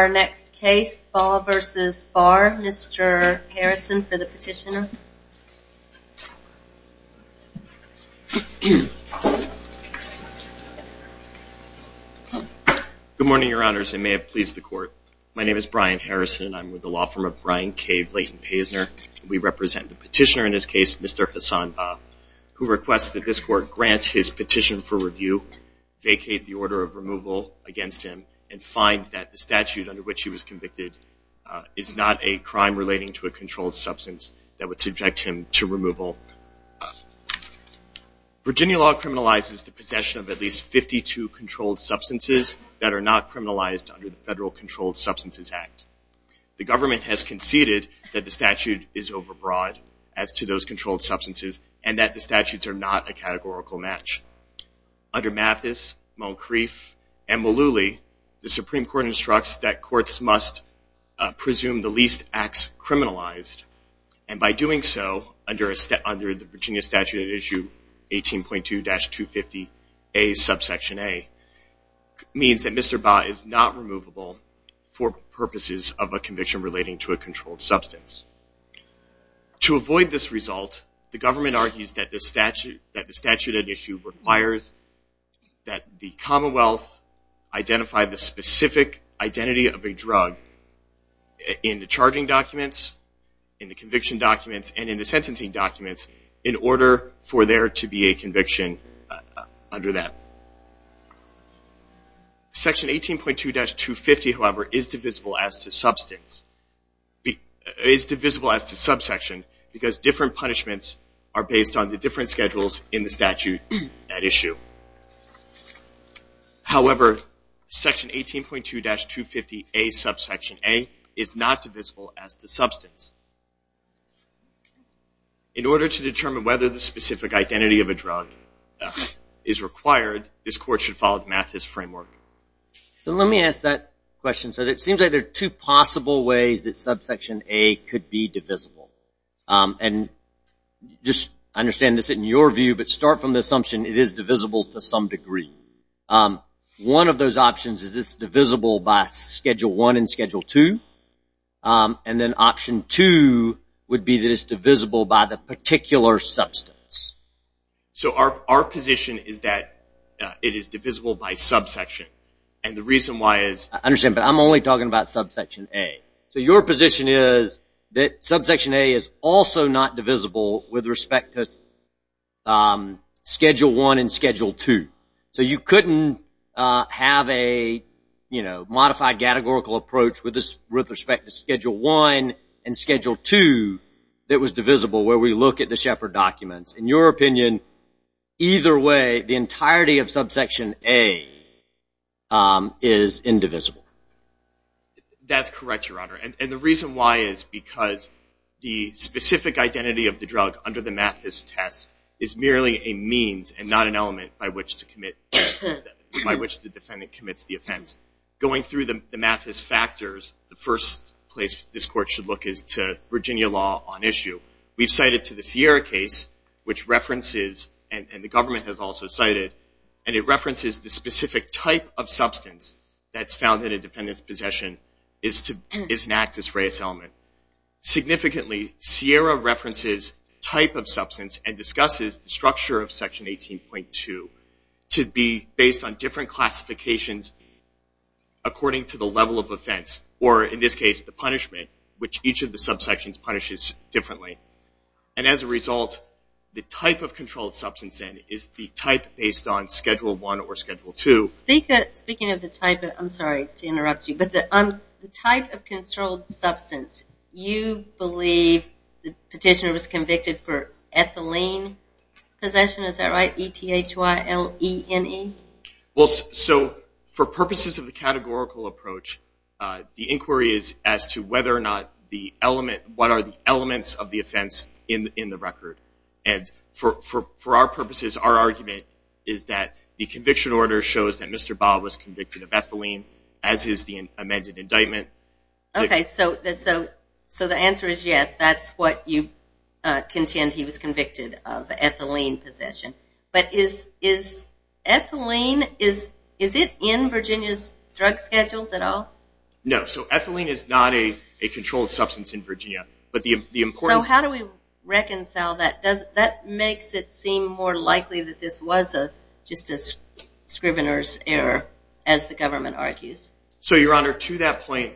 Our next case, Bah v. Barr, Mr. Harrison for the petitioner. Good morning, your honors. I may have pleased the court. My name is Brian Harrison. I'm with the law firm of Brian K. Blayton-Paysner. We represent the petitioner in this case, Mr. Hassan Bah, who requests that this court grant his petition for review, vacate the order of removal against him, and find that the statute under which he was convicted is not a crime relating to a controlled substance that would subject him to removal. Virginia law criminalizes the possession of at least 52 controlled substances that are not criminalized under the Federal Controlled Substances Act. The government has conceded that the statute is overbroad as to those controlled substances and that the statutes are not a categorical match. Under Mathis, Moncrief, and Mullooly, the Supreme Court instructs that courts must presume the least acts criminalized, and by doing so, under the Virginia statute at issue 18.2-250A subsection A, means that Mr. Bah is not removable for purposes of a conviction relating to a controlled substance. To avoid this result, the government argues that the statute at issue requires that the Commonwealth identify the specific identity of a drug in the charging documents, in the conviction documents, and in the sentencing documents in order for there to be a conviction under that. Section 18.2-250, however, is divisible as to subsection because different punishments are based on the different schedules in the statute at issue. However, section 18.2-250A subsection A is not divisible as to substance. In order to determine whether the specific identity of a drug is required, this court should follow the Mathis framework. Let me ask that question. It seems like there are two possible ways that subsection A could be divisible. Just understand this in your view, but start from the assumption it is divisible to some degree. One of those options is it's divisible by Schedule 1 and Schedule 2. And then Option 2 would be that it's divisible by the particular substance. So our position is that it is divisible by subsection. And the reason why is... I understand, but I'm only talking about subsection A. So your position is that subsection A is also not divisible with respect to Schedule 1 and Schedule 2. So you couldn't have a modified categorical approach with respect to Schedule 1 and Schedule 2 that was divisible where we look at the Shepard documents. In your opinion, either way, the entirety of subsection A is indivisible. That's correct, Your Honor. And the reason why is because the specific identity of the drug under the Mathis test is merely a means and not an element by which the defendant commits the offense. Going through the Mathis factors, the first place this Court should look is to Virginia law on issue. We've cited to the Sierra case, which references, and the government has also cited, and it references the specific type of substance that's found in a defendant's possession is an actus reus element. Significantly, Sierra references type of substance and discusses the structure of Section 18.2 to be based on different classifications according to the level of offense, or in this case, the punishment, which each of the subsections punishes differently. And as a result, the type of controlled substance is the type based on Schedule 1 or Schedule 2. Speaking of the type of, I'm sorry to interrupt you, but the type of controlled substance, you believe the petitioner was convicted for ethylene possession. Is that right, E-T-H-Y-L-E-N-E? Well, so for purposes of the categorical approach, the inquiry is as to whether or not the element, what are the elements of the offense in the record. And for our purposes, our argument is that the conviction order shows that Mr. Bob was convicted of ethylene, as is the amended indictment. Okay, so the answer is yes, that's what you contend he was convicted of, ethylene possession. But is ethylene, is it in Virginia's drug schedules at all? No, so ethylene is not a controlled substance in Virginia. So how do we reconcile that? That makes it seem more likely that this was just a scrivener's error, as the government argues. So, Your Honor, to that point,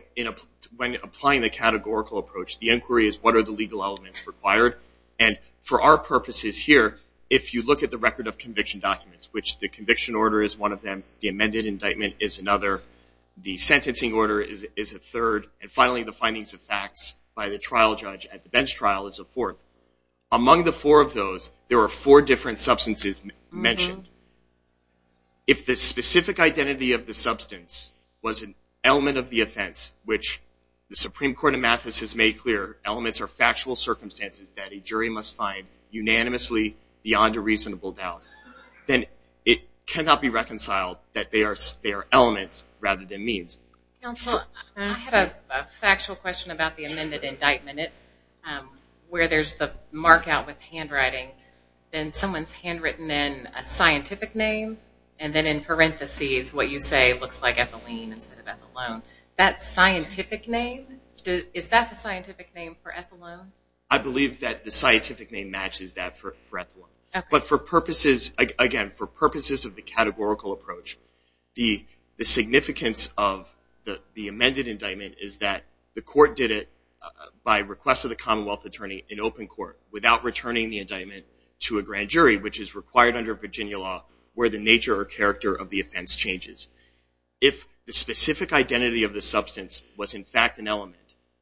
when applying the categorical approach, the inquiry is what are the legal elements required. And for our purposes here, if you look at the record of conviction documents, which the conviction order is one of them, the amended indictment is another, the sentencing order is a third, and finally the findings of facts by the trial judge at the bench trial is a fourth. Among the four of those, there are four different substances mentioned. If the specific identity of the substance was an element of the offense, which the Supreme Court of Mathis has made clear, elements are factual circumstances that a jury must find unanimously beyond a reasonable doubt, then it cannot be reconciled that they are elements rather than means. Counsel, I have a factual question about the amended indictment. Where there's the mark out with the handwriting, then someone's handwritten in a scientific name, and then in parentheses what you say looks like ethylene instead of ethylene. That scientific name, is that the scientific name for ethylene? I believe that the scientific name matches that for ethylene. But for purposes, again, for purposes of the categorical approach, the significance of the amended indictment is that the court did it by request of the Commonwealth attorney in open court without returning the indictment to a grand jury, which is required under Virginia law where the nature or character of the offense changes. If the specific identity of the substance was in fact an element,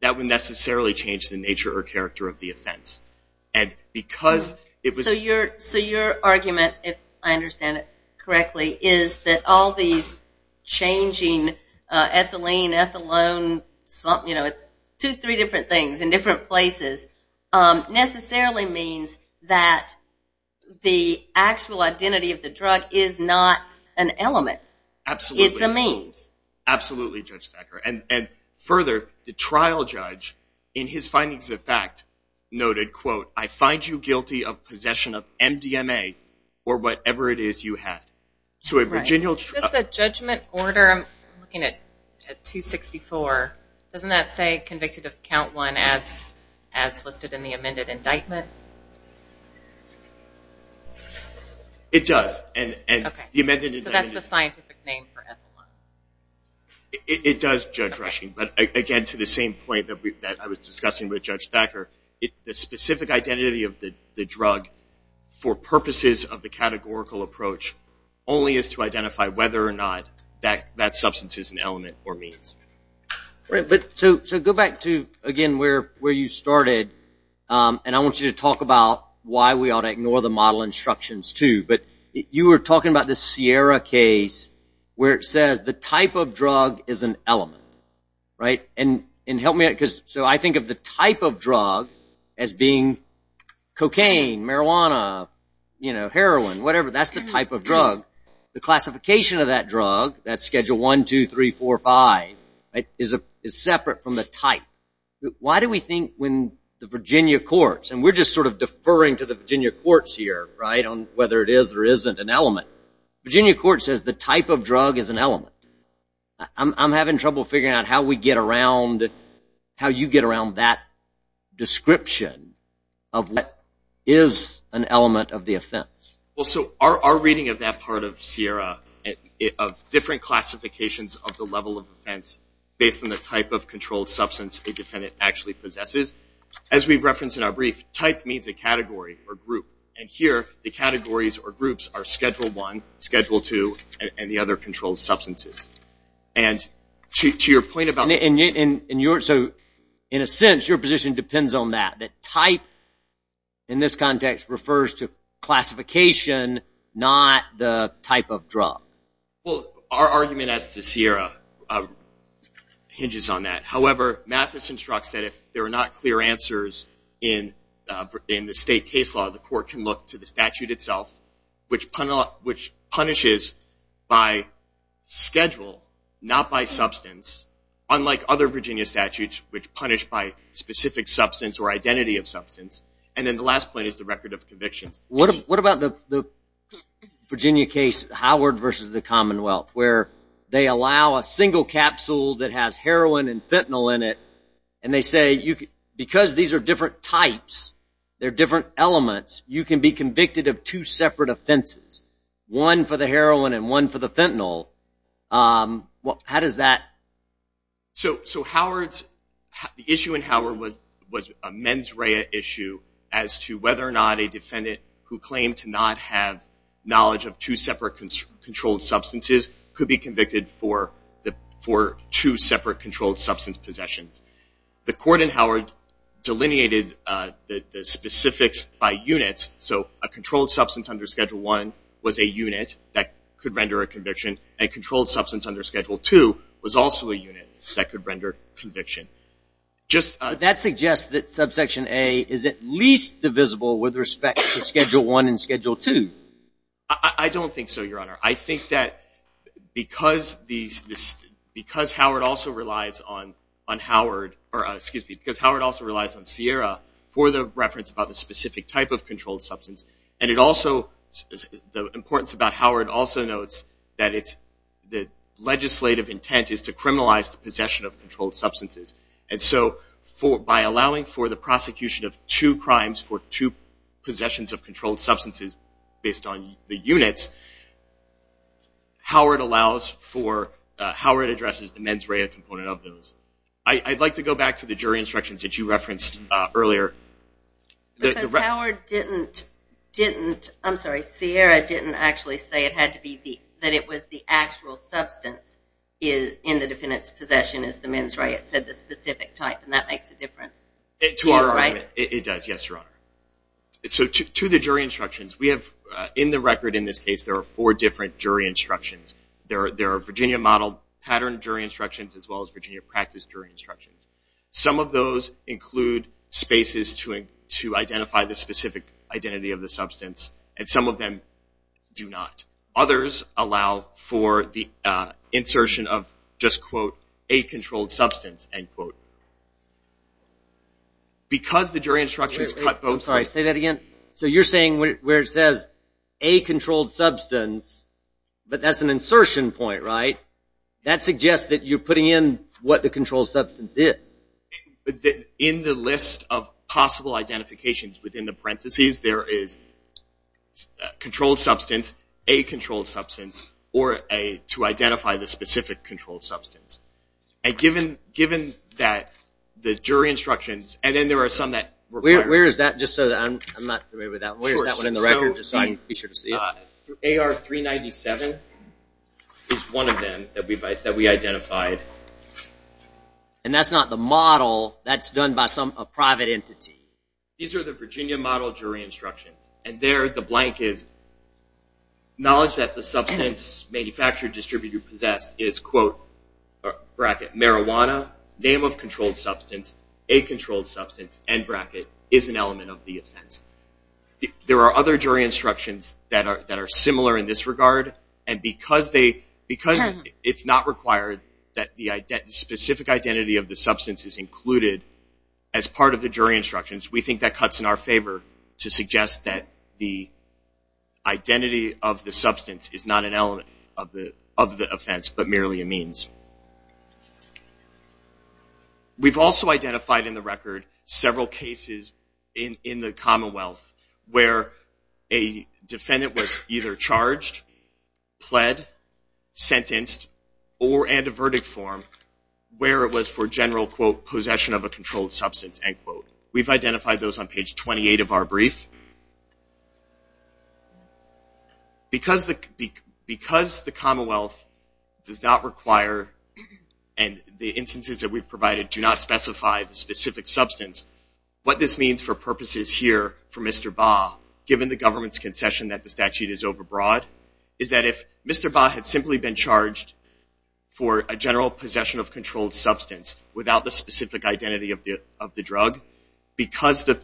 So your argument, if I understand it correctly, is that all these changing ethylene, ethylone, it's two, three different things in different places, necessarily means that the actual identity of the drug is not an element. Absolutely. It's a means. Absolutely, Judge Thacker. And further, the trial judge, in his findings of fact, noted, quote, I find you guilty of possession of MDMA or whatever it is you had. So a Virginia... Does the judgment order, I'm looking at 264, doesn't that say convicted of count one as listed in the amended indictment? It does. Okay. So that's the scientific name for ethylene. It does, Judge Rushing. But again, to the same point that I was discussing with Judge Thacker, the specific identity of the drug for purposes of the categorical approach only is to identify whether or not that substance is an element or means. Right. So go back to, again, where you started, and I want you to talk about why we ought to ignore the model instructions too. But you were talking about the Sierra case where it says the type of drug is an element. Right. And help me out. So I think of the type of drug as being cocaine, marijuana, heroin, whatever. That's the type of drug. The classification of that drug, that's schedule one, two, three, four, five, is separate from the type. Why do we think when the Virginia courts, and we're just sort of deferring to the Virginia courts here, right, on whether it is or isn't an element, Virginia court says the type of drug is an element. I'm having trouble figuring out how we get around, how you get around that description of what is an element of the offense. Well, so our reading of that part of Sierra, of different classifications of the level of offense based on the type of controlled substance a defendant actually possesses, as we've referenced in our brief, type means a category or group. And here the categories or groups are schedule one, schedule two, and the other controlled substances. And to your point about the ñ So in a sense your position depends on that, that type in this context refers to classification, not the type of drug. Well, our argument as to Sierra hinges on that. However, Mathis instructs that if there are not clear answers in the state case law, the court can look to the statute itself, which punishes by schedule, not by substance, unlike other Virginia statutes, which punish by specific substance or identity of substance. And then the last point is the record of convictions. What about the Virginia case Howard versus the Commonwealth, where they allow a single capsule that has heroin and fentanyl in it, and they say because these are different types, they're different elements, you can be convicted of two separate offenses, one for the heroin and one for the fentanyl. How does that ñ So Howard's ñ the issue in Howard was a mens rea issue as to whether or not a defendant who claimed to not have knowledge of two separate controlled substances could be convicted for two separate controlled substance possessions. The court in Howard delineated the specifics by units. So a controlled substance under Schedule I was a unit that could render a conviction, and a controlled substance under Schedule II was also a unit that could render conviction. But that suggests that subsection A is at least divisible with respect to Schedule I and Schedule II. I don't think so, Your Honor. I think that because Howard also relies on Sierra for the reference about the specific type of controlled substance, and it also ñ the importance about Howard also notes that it's ñ the legislative intent is to criminalize the possession of controlled substances. And so by allowing for the prosecution of two crimes for two possessions of controlled substances based on the units, Howard allows for ñ Howard addresses the mens rea component of those. I'd like to go back to the jury instructions that you referenced earlier. Because Howard didn't ñ didn't ñ I'm sorry, Sierra didn't actually say it had to be the ñ that it was the actual substance in the defendant's possession is the mens rea. It said the specific type, and that makes a difference. To our argument, it does, yes, Your Honor. So to the jury instructions, we have ñ in the record in this case, there are four different jury instructions. There are Virginia-modeled patterned jury instructions as well as Virginia-practiced jury instructions. Some of those include spaces to identify the specific identity of the substance, and some of them do not. Others allow for the insertion of just, quote, a controlled substance, end quote. Because the jury instructions cut both ñ Wait, wait, I'm sorry, say that again. So you're saying where it says a controlled substance, but that's an insertion point, right? That suggests that you're putting in what the controlled substance is. In the list of possible identifications within the parentheses, there is a controlled substance, a controlled substance, or a to identify the specific controlled substance. And given that the jury instructions ñ and then there are some that require it. Where is that, just so that ñ I'm not familiar with that one. Where is that one in the record, just so I can be sure to see it? AR-397 is one of them that we identified. And that's not the model. That's done by some ñ a private entity. These are the Virginia model jury instructions. And there, the blank is, knowledge that the substance manufactured, distributed, or possessed is, quote, bracket, marijuana, name of controlled substance, a controlled substance, end bracket, is an element of the offense. There are other jury instructions that are similar in this regard. And because they ñ because it's not required that the specific identity of the substance is included as part of the jury instructions, we think that cuts in our favor to suggest that the identity of the substance is not an element of the offense, but merely a means. We've also identified in the record several cases in the Commonwealth where a defendant was either charged, pled, sentenced, or in a verdict form where it was for general, quote, possession of a controlled substance, end quote. We've identified those on page 28 of our brief. Because the Commonwealth does not require, and the instances that we've provided do not specify the specific substance, what this means for purposes here for Mr. Baugh, given the government's concession that the statute is overbroad, is that if Mr. Baugh had simply been charged for a general possession of controlled substance without the specific identity of the drug, because the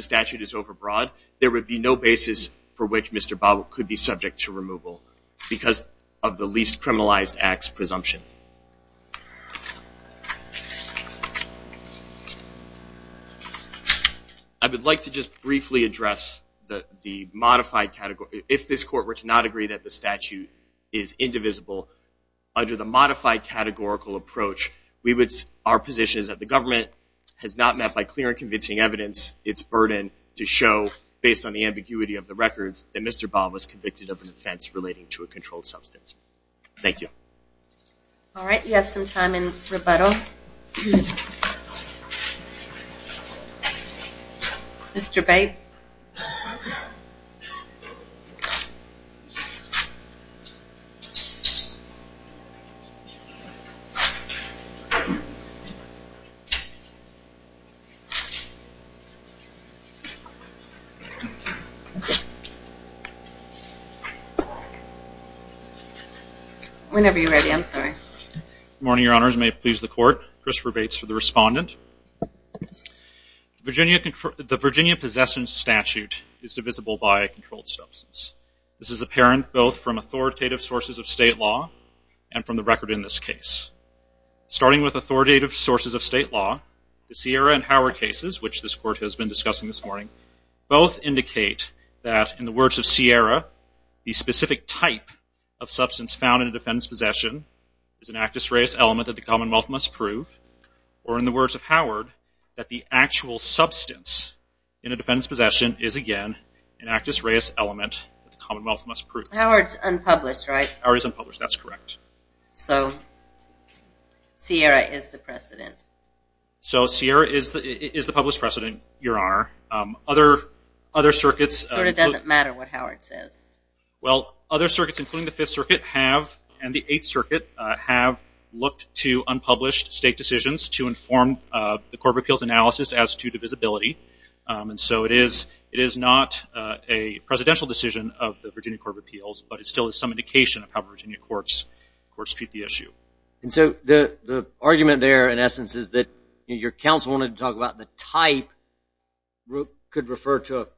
statute is overbroad, there would be no basis for which Mr. Baugh could be subject to removal because of the least criminalized acts presumption. I would like to just briefly address the modified category. If this Court were to not agree that the statute is indivisible, under the modified categorical approach, our position is that the government has not met by clear and convincing evidence its burden to show, based on the ambiguity of the records, that Mr. Baugh was convicted of an offense relating to a controlled substance. Thank you. All right. You have some time in rebuttal. Mr. Bates. Whenever you're ready. I'm sorry. Good morning, Your Honors. May it please the Court. Christopher Bates for the respondent. The Virginia Possession Statute is divisible by a controlled substance. This is apparent both from authoritative sources of state law and from the record in this case. Starting with authoritative sources of state law, the Sierra and Howard cases, which this Court has been discussing this morning, both indicate that, in the words of Sierra, the specific type of substance found in a defendant's possession is an actus reus element that the Commonwealth must prove, or in the words of Howard, that the actual substance in a defendant's possession is, again, an actus reus element that the Commonwealth must prove. Howard's unpublished, right? Howard is unpublished. That's correct. So Sierra is the precedent. So Sierra is the published precedent, Your Honor. Other circuits. It doesn't matter what Howard says. Well, other circuits, including the Fifth Circuit, have, and the Eighth Circuit, have looked to unpublished state decisions to inform the Court of Appeals analysis as to divisibility. And so it is not a presidential decision of the Virginia Court of Appeals, but it still is some indication of how Virginia courts treat the issue. And so the argument there, in essence, is that your counsel wanted to talk about the type could refer to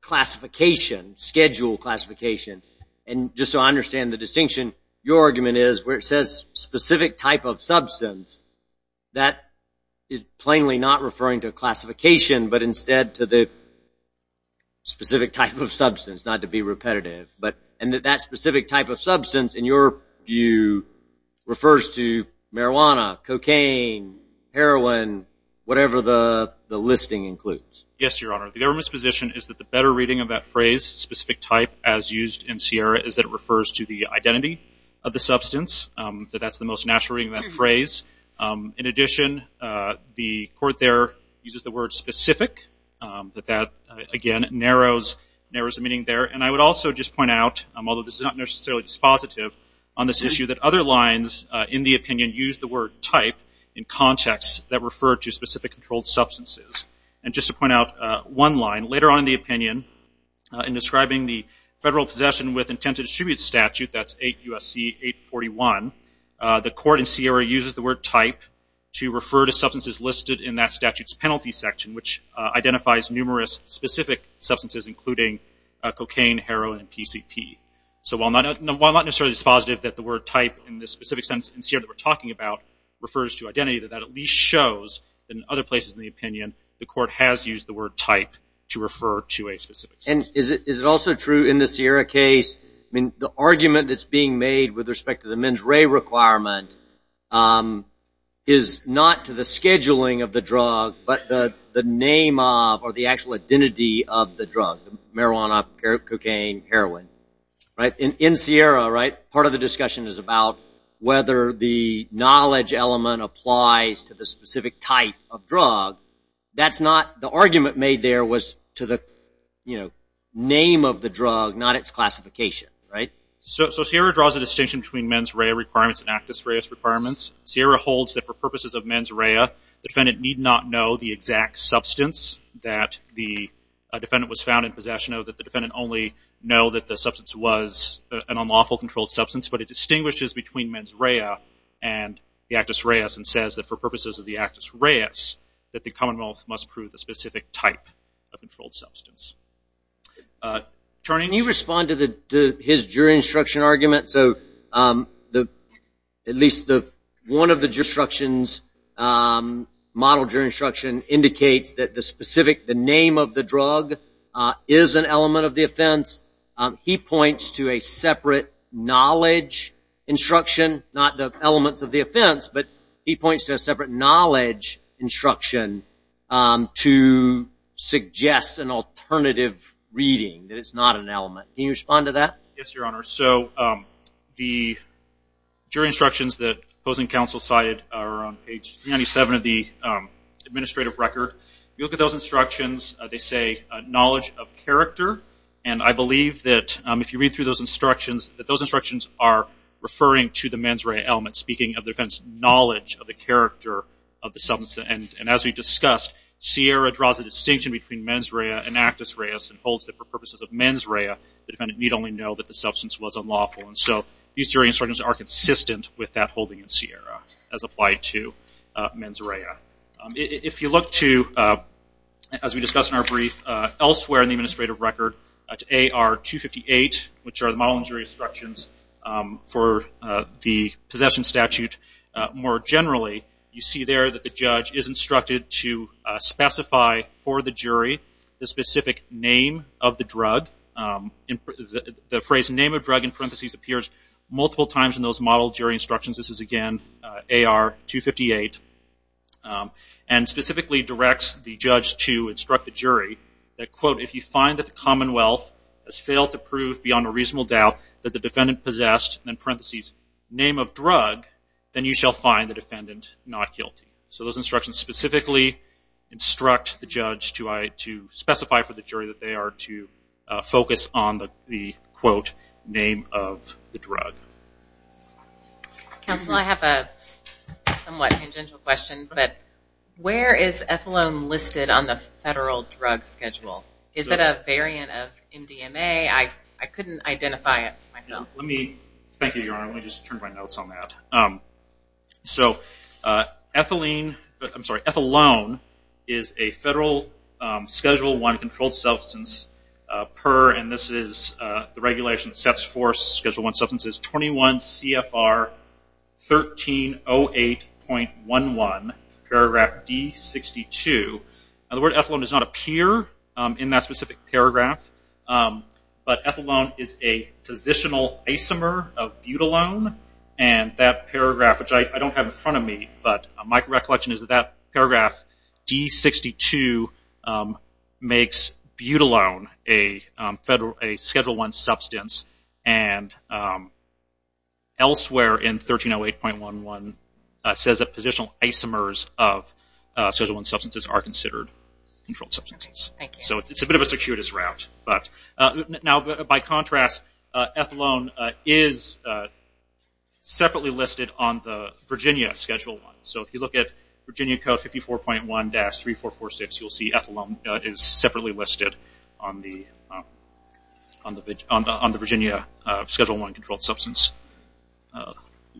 classification, schedule classification. And just so I understand the distinction, your argument is where it says specific type of substance, that is plainly not referring to classification, but instead to the specific type of substance, not to be repetitive. And that specific type of substance, in your view, refers to marijuana, cocaine, heroin, whatever the listing includes. Yes, Your Honor. The government's position is that the better reading of that phrase, specific type, as used in Sierra, is that it refers to the identity of the substance, that that's the most natural reading of that phrase. In addition, the Court there uses the word specific, that that, again, narrows the meaning there. And I would also just point out, although this is not necessarily dispositive, on this issue that other lines, in the opinion, use the word type in contexts that refer to specific controlled substances. And just to point out one line, later on in the opinion, in describing the Federal Possession with Intent to Distribute Statute, that's 8 U.S.C. 841, the Court in Sierra uses the word type to refer to substances listed in that statute's penalty section, which identifies numerous specific substances, including cocaine, heroin, and PCP. So while not necessarily dispositive that the word type, in the specific sense in Sierra that we're talking about, refers to identity, that that at least shows, in other places in the opinion, the Court has used the word type to refer to a specific substance. And is it also true in the Sierra case, I mean the argument that's being made with respect to the mens rea requirement is not to the scheduling of the drug, but the name of, or the actual identity of the drug, marijuana, cocaine, heroin. In Sierra, part of the discussion is about whether the knowledge element applies to the specific type of drug. That's not, the argument made there was to the name of the drug, not its classification. So Sierra draws a distinction between mens rea requirements and actus reus requirements. Sierra holds that for purposes of mens rea, the defendant need not know the exact substance that the defendant was found in possession of, that the defendant only know that the substance was an unlawful controlled substance. But it distinguishes between mens rea and the actus reus and says that for purposes of the actus reus, that the commonwealth must prove the specific type of controlled substance. Can you respond to his jury instruction argument? So at least one of the model jury instructions indicates that the name of the drug is an element of the offense. He points to a separate knowledge instruction, not the elements of the offense, but he points to a separate knowledge instruction to suggest an alternative reading, that it's not an element. Can you respond to that? Yes, Your Honor. So the jury instructions that opposing counsel cited are on page 97 of the administrative record. If you look at those instructions, they say knowledge of character. And I believe that if you read through those instructions, that those instructions are referring to the mens rea element, speaking of the defendant's knowledge of the character of the substance. And as we discussed, Sierra draws a distinction between mens rea and actus reus and holds that for purposes of mens rea, the defendant need only know that the substance was unlawful. And so these jury instructions are consistent with that holding in Sierra as applied to mens rea. If you look to, as we discussed in our brief, elsewhere in the administrative record to AR 258, which are the model and jury instructions for the possession statute, more generally, you see there that the judge is instructed to specify for the jury the specific name of the drug. The phrase name of drug in parentheses appears multiple times in those model jury instructions. This is, again, AR 258. And specifically directs the judge to instruct the jury that, quote, if you find that the commonwealth has failed to prove beyond a reasonable doubt that the defendant possessed, in parentheses, name of drug, then you shall find the defendant not guilty. So those instructions specifically instruct the judge to specify for the jury that they are to focus on the, quote, name of the drug. Council, I have a somewhat tangential question, but where is ethylene listed on the federal drug schedule? Is it a variant of MDMA? I couldn't identify it myself. Thank you, Your Honor. Let me just turn my notes on that. So ethylene, I'm sorry, ethylene is a federal Schedule I controlled substance per, and this is the regulation that sets for Schedule I substances, 21 CFR 1308.11, paragraph D62. The word ethylene does not appear in that specific paragraph, but ethylene is a positional isomer of butylone, and that paragraph, which I don't have in front of me, but my recollection is that paragraph D62 makes butylone a Schedule I substance, and elsewhere in 1308.11 says that positional isomers of Schedule I substances are considered controlled substances. So it's a bit of a circuitous route. Now, by contrast, ethylene is separately listed on the Virginia Schedule I. So if you look at Virginia Code 54.1-3446, you'll see ethylene is separately listed on the Virginia Schedule I controlled substance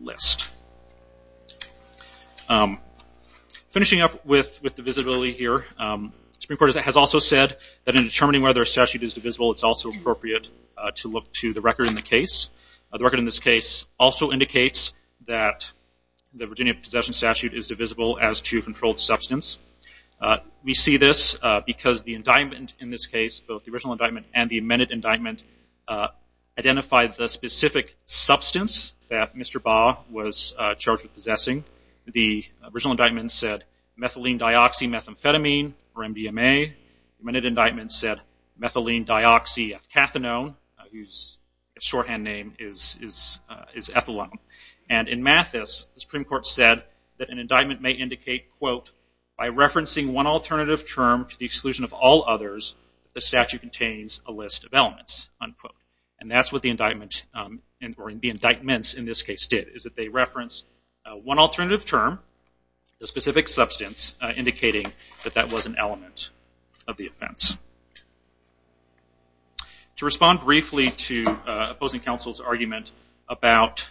list. Finishing up with divisibility here, the Supreme Court has also said that in determining whether a statute is divisible, it's also appropriate to look to the record in the case. The record in this case also indicates that the Virginia Possession Statute is divisible as to controlled substance. We see this because the indictment in this case, both the original indictment and the amended indictment, identified the specific substance that Mr. Baugh was charged with possessing. The original indictment said methylene dioxymethamphetamine, or MDMA. The amended indictment said methylene dioxyethanone, whose shorthand name is ethylene. And in Mathis, the Supreme Court said that an indictment may indicate, quote, by referencing one alternative term to the exclusion of all others, the statute contains a list of elements, unquote. And that's what the indictments in this case did, is that they referenced one alternative term, a specific substance, indicating that that was an element of the offense. To respond briefly to opposing counsel's argument about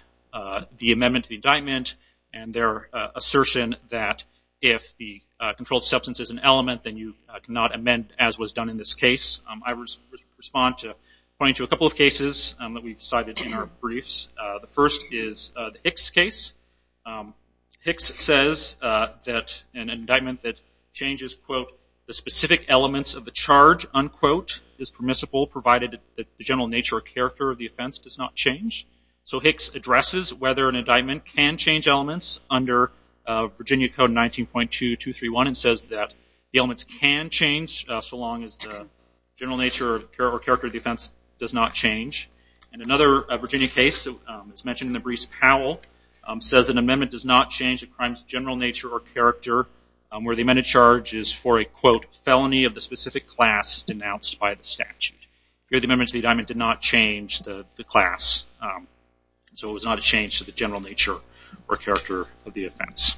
the amendment to the statute, if the controlled substance is an element, then you cannot amend as was done in this case. I will respond to a couple of cases that we cited in our briefs. The first is the Hicks case. Hicks says that an indictment that changes, quote, the specific elements of the charge, unquote, is permissible, provided that the general nature or character of the offense does not change. So Hicks addresses whether an indictment can change elements under Virginia Code 19.2231 and says that the elements can change, so long as the general nature or character of the offense does not change. In another Virginia case, it's mentioned in the Brees Powell, says an amendment does not change a crime's general nature or character, where the amended charge is for a, quote, felony of the specific class denounced by the statute. Here the amendment to the indictment did not change the class, so it was not a change to the general nature or character of the offense.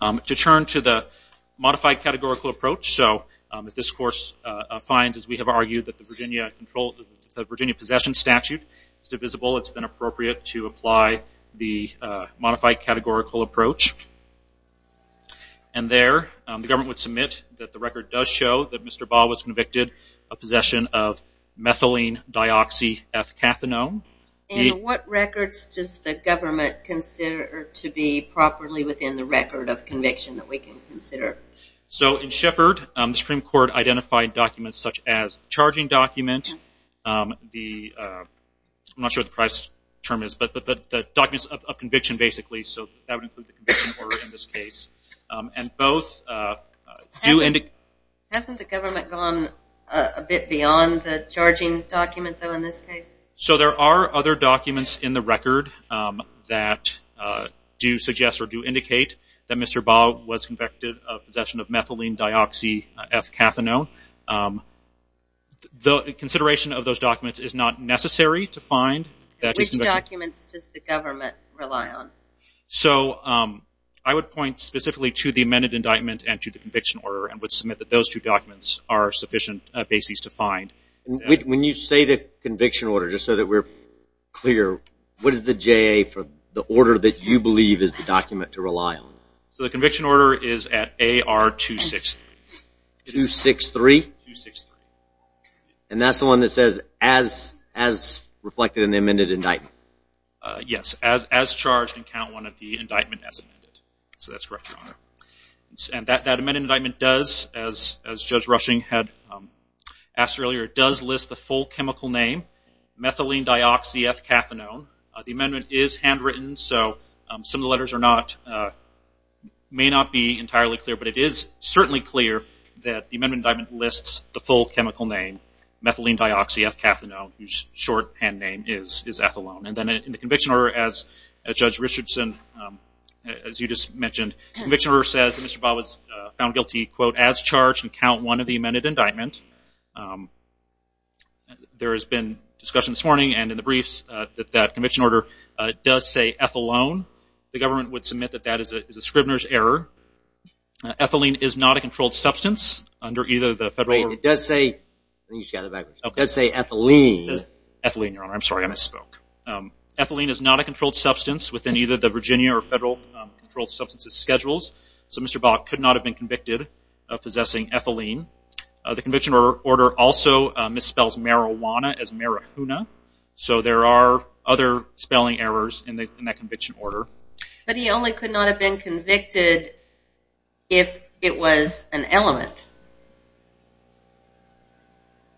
To turn to the modified categorical approach, so if this course finds, as we have argued, that the Virginia Possession Statute is divisible, it's then appropriate to apply the modified categorical approach. And there the government would submit that the record does show that Mr. Shepherd has been charged with the possession of a felony. And what records does the government consider to be properly within the record of conviction that we can consider? So in Shepherd, the Supreme Court identified documents such as the charging document, the, I'm not sure what the price term is, but the documents of conviction, basically, so that would include the conviction order in this case. And both do indicate. Hasn't the government gone a bit beyond the charging document, though, in this case? So there are other documents in the record that do suggest or do indicate that Mr. Baugh was convicted of possession of methylene deoxyethacanone. The consideration of those documents is not necessary to find. Which documents does the government rely on? So I would point specifically to the amended indictment and to the conviction order, and would submit that those two documents are sufficient bases to find. When you say the conviction order, just so that we're clear, what is the JA for the order that you believe is the document to rely on? So the conviction order is at AR 263. 263? 263. And that's the one that says as reflected in the amended indictment? Yes, as charged in count one of the indictment as amended. So that's correct, Your Honor. And that amended indictment does, as Judge Rushing had asked earlier, does list the full chemical name, methylene deoxyethacanone. The amendment is handwritten, so some of the letters may not be entirely clear, but it is certainly clear that the amended indictment lists the full chemical name, methylene deoxyethacanone, whose shorthand name is ethylene. And then in the conviction order, as Judge Richardson, as you just mentioned, the conviction order says that Mr. Bob was found guilty, quote, as charged in count one of the amended indictment. There has been discussion this morning and in the briefs that that conviction order does say ethylene. The government would submit that that is a Scribner's error. Ethylene is not a controlled substance under either the federal order. Wait, it does say, I think you just got it backwards, it does say ethylene. Ethylene, Your Honor. I'm sorry, I misspoke. Ethylene is not a controlled substance within either the Virginia or federal controlled substances schedules, so Mr. Bob could not have been convicted of possessing ethylene. The conviction order also misspells marijuana as marihuna, so there are other spelling errors in that conviction order. But he only could not have been convicted if it was an element.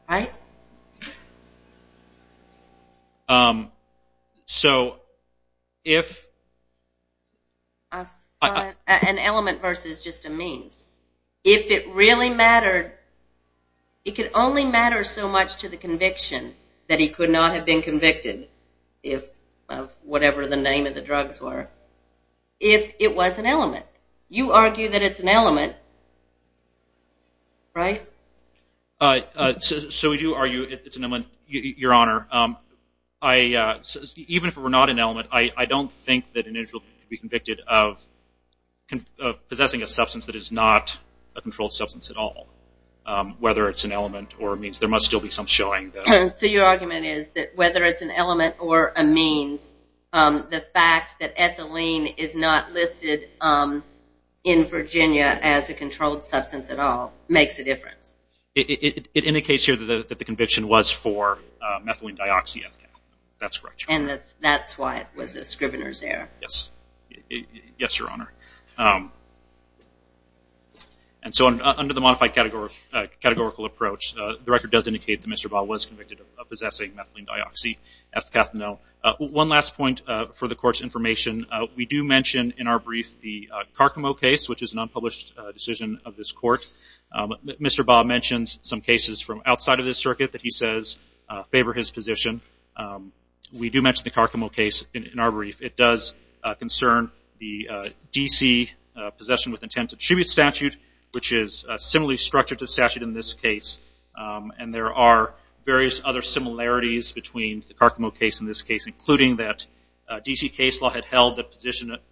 Right? So if... An element versus just a means. If it really mattered, it could only matter so much to the conviction that he could not have been convicted, whatever the name of the drugs were, if it was an element. You argue that it's an element, right? So we do argue it's an element, Your Honor. Even if it were not an element, I don't think that an individual could be convicted of possessing a substance that is not a controlled substance at all, whether it's an element or a means. There must still be some showing, though. So your argument is that whether it's an element or a means, the fact that ethylene is not listed in Virginia as a controlled substance at all makes a difference. It indicates here that the conviction was for methylene dioxyethcathinol. That's correct, Your Honor. And that's why it was a Scrivener's error. Yes. Yes, Your Honor. And so under the modified categorical approach, the record does indicate that Mr. Bob was convicted of possessing methylene dioxyethcathinol. One last point for the Court's information. We do mention in our brief the Carcamo case, which is an unpublished decision of this Court. Mr. Bob mentions some cases from outside of this circuit that he says favor his position. We do mention the Carcamo case in our brief. It does concern the D.C. Possession with Intent to Distribute statute, which is similarly structured to statute in this case. And there are various other similarities between the Carcamo case and this case, including that D.C. case law had held that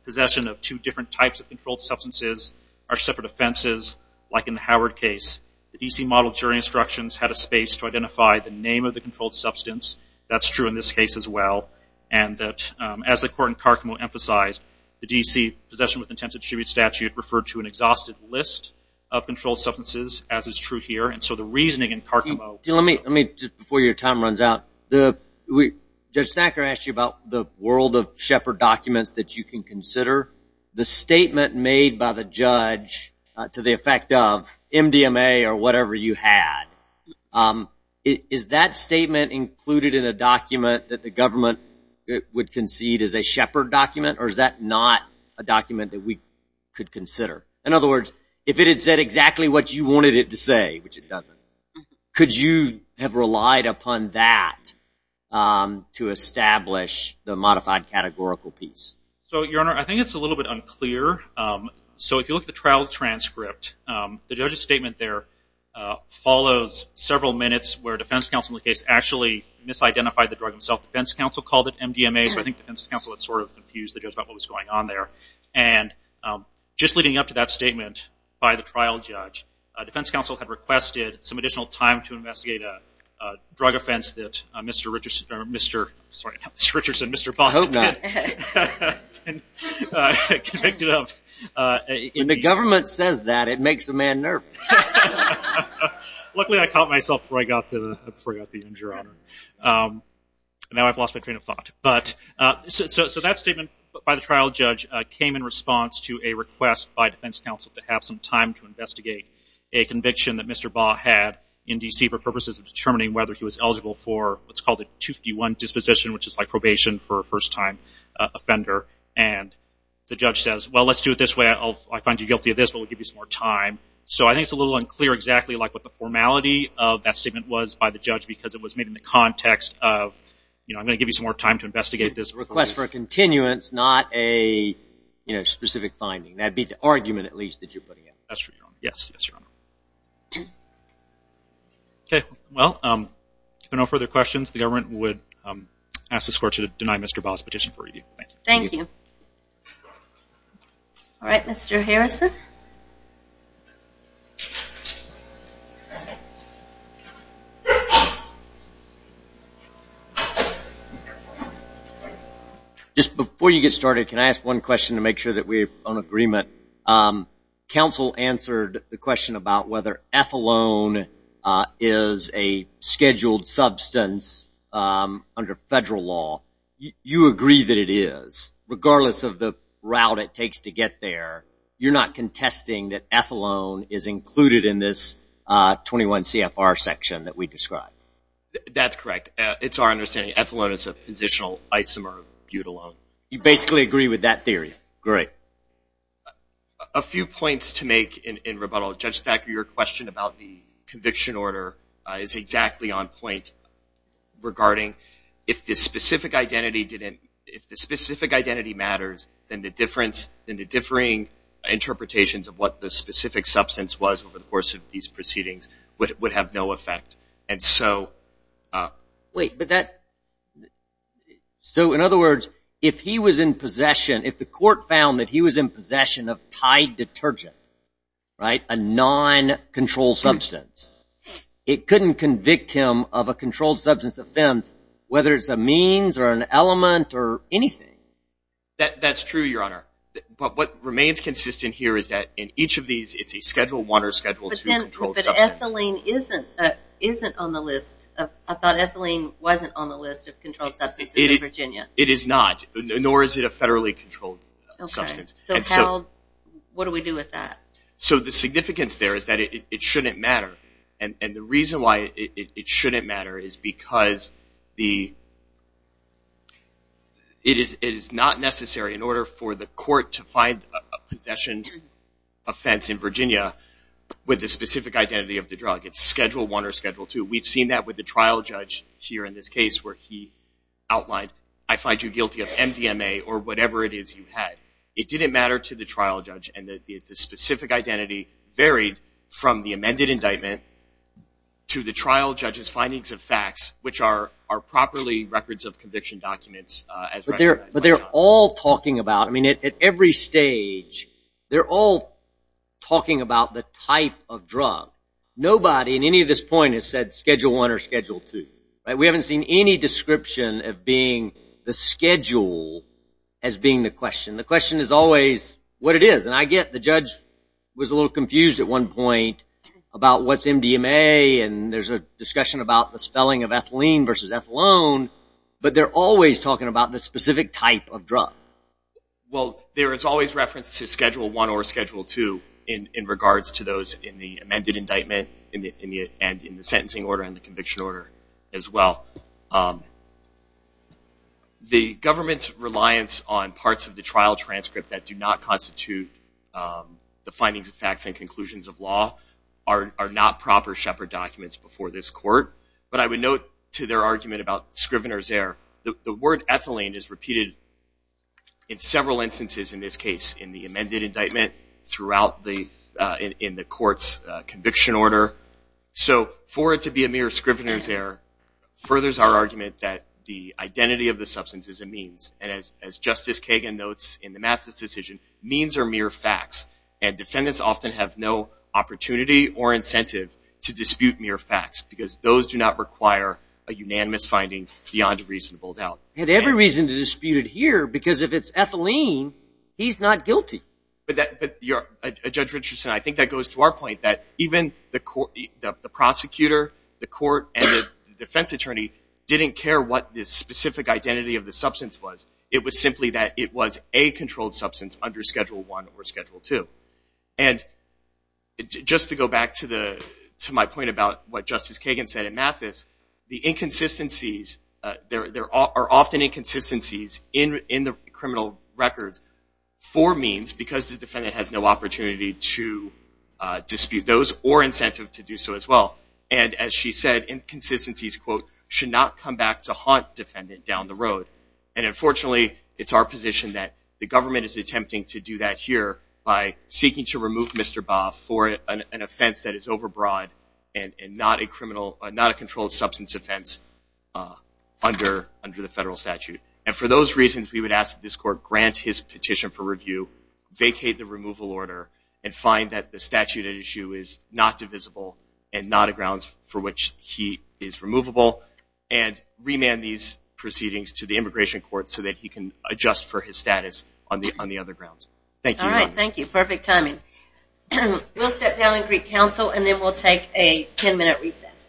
possession of two different types of controlled substances are separate offenses, like in the Howard case. The D.C. Model Jury Instructions had a space to identify the name of the controlled substance. That's true in this case as well. And that as the Court in Carcamo emphasized, the D.C. Possession with Intent to Distribute statute referred to an And so the reasoning in Carcamo. Let me, just before your time runs out, Judge Snacker asked you about the world of Shepard documents that you can consider. The statement made by the judge to the effect of MDMA or whatever you had, is that statement included in a document that the government would concede is a Shepard document, or is that not a document that we could consider? In other words, if it had said exactly what you wanted it to say, which it doesn't, could you have relied upon that to establish the modified categorical piece? So, Your Honor, I think it's a little bit unclear. So if you look at the trial transcript, the judge's statement there follows several minutes where a defense counsel in the case actually misidentified the drug himself. The defense counsel called it MDMA, so I think the defense counsel had sort of confused the judge about what was going on there. And just leading up to that statement by the trial judge, the defense counsel had requested some additional time to investigate a drug offense that Mr. Richardson, Mr. Bobbitt, convicted of. When the government says that, it makes a man nervous. Luckily, I caught myself before I got the injury. Now I've lost my train of thought. So that statement by the trial judge came in response to a request by defense counsel to have some time to investigate a conviction that Mr. Bobbitt had in D.C. for purposes of determining whether he was eligible for what's called a 251 disposition, which is like probation for a first-time offender. And the judge says, well, let's do it this way. I find you guilty of this, but we'll give you some more time. So I think it's a little unclear exactly what the formality of that statement was by the judge because it was made in the context of, you know, I'm going to give you some more time to investigate this. A request for a continuance, not a specific finding. That would be the argument, at least, that you're putting out. Yes, Your Honor. Okay. Well, if there are no further questions, the government would ask the court to deny Mr. Bobbitt's petition for review. Thank you. All right. Mr. Harrison. Just before you get started, can I ask one question to make sure that we're on agreement? Counsel answered the question about whether ethylone is a scheduled substance under federal law. You agree that it is, regardless of the route it takes to get there. You're not contesting that ethylone is included in this 21 CFR section that we described? That's correct. It's our understanding ethylone is a positional isomer butylone. You basically agree with that theory? Yes. Great. A few points to make in rebuttal. Judge Thacker, your question about the conviction order is exactly on point regarding if the specific identity matters, then the differing interpretations of what the specific substance was over the course of these proceedings would have no effect. Wait, so in other words, if he was in possession, if the court found that he was in possession of tied detergent, a non-controlled substance, it couldn't convict him of a controlled substance offense, whether it's a means or an element or anything? That's true, Your Honor. But what remains consistent here is that in each of these, it's a Schedule I or Schedule II controlled substance. But ethylene isn't on the list. I thought ethylene wasn't on the list of controlled substances in Virginia. It is not, nor is it a federally controlled substance. So what do we do with that? So the significance there is that it shouldn't matter, and the reason why it shouldn't matter is because it is not necessary in order for the court to find a possession offense in Virginia with the specific identity of the drug. It's Schedule I or Schedule II. We've seen that with the trial judge here in this case where he outlined, I find you guilty of MDMA or whatever it is you had. It didn't matter to the trial judge, and the specific identity varied from the amended indictment to the trial judge's findings of facts, which are properly records of conviction documents. But they're all talking about, I mean, at every stage, they're all talking about the type of drug. Nobody in any of this point has said Schedule I or Schedule II. We haven't seen any description of being the schedule as being the question. The question is always what it is. And I get the judge was a little confused at one point about what's MDMA, and there's a discussion about the spelling of ethylene versus ethylone, but they're always talking about the specific type of drug. Well, there is always reference to Schedule I or Schedule II in regards to those in the amended indictment and in the sentencing order and the conviction order as well. The government's reliance on parts of the trial transcript that do not constitute the findings of facts and conclusions of law are not proper Shepard documents before this court. But I would note to their argument about Scrivener's Error, the word ethylene is repeated in several instances in this case, in the amended indictment, throughout in the court's conviction order. So for it to be a mere Scrivener's Error furthers our argument that the identity of the substance is a means. And as Justice Kagan notes in the Mathis decision, means are mere facts. And defendants often have no opportunity or incentive to dispute mere facts because those do not require a unanimous finding beyond a reasonable doubt. And every reason to dispute it here because if it's ethylene, he's not guilty. But Judge Richardson, I think that goes to our point that even the prosecutor, the court, and the defense attorney didn't care what the specific identity of the substance was. It was simply that it was a controlled substance under Schedule I or Schedule II. And just to go back to my point about what Justice Kagan said in Mathis, the inconsistencies, there are often inconsistencies in the criminal records for means because the defendant has no opportunity to dispute those or incentive to do so as well. And as she said, inconsistencies, quote, should not come back to haunt defendant down the road. And unfortunately, it's our position that the government is attempting to do that here by seeking to remove Mr. Bob for an offense that is overbroad and not a controlled substance offense under the federal statute. And for those reasons, we would ask that this court grant his petition for review, vacate the removal order, and find that the statute at issue is not divisible and not a grounds for which he is removable, and remand these proceedings to the Immigration Court so that he can adjust for his status on the other grounds. Thank you. All right, thank you. Perfect timing. We'll step down and greet counsel, and then we'll take a 10-minute recess.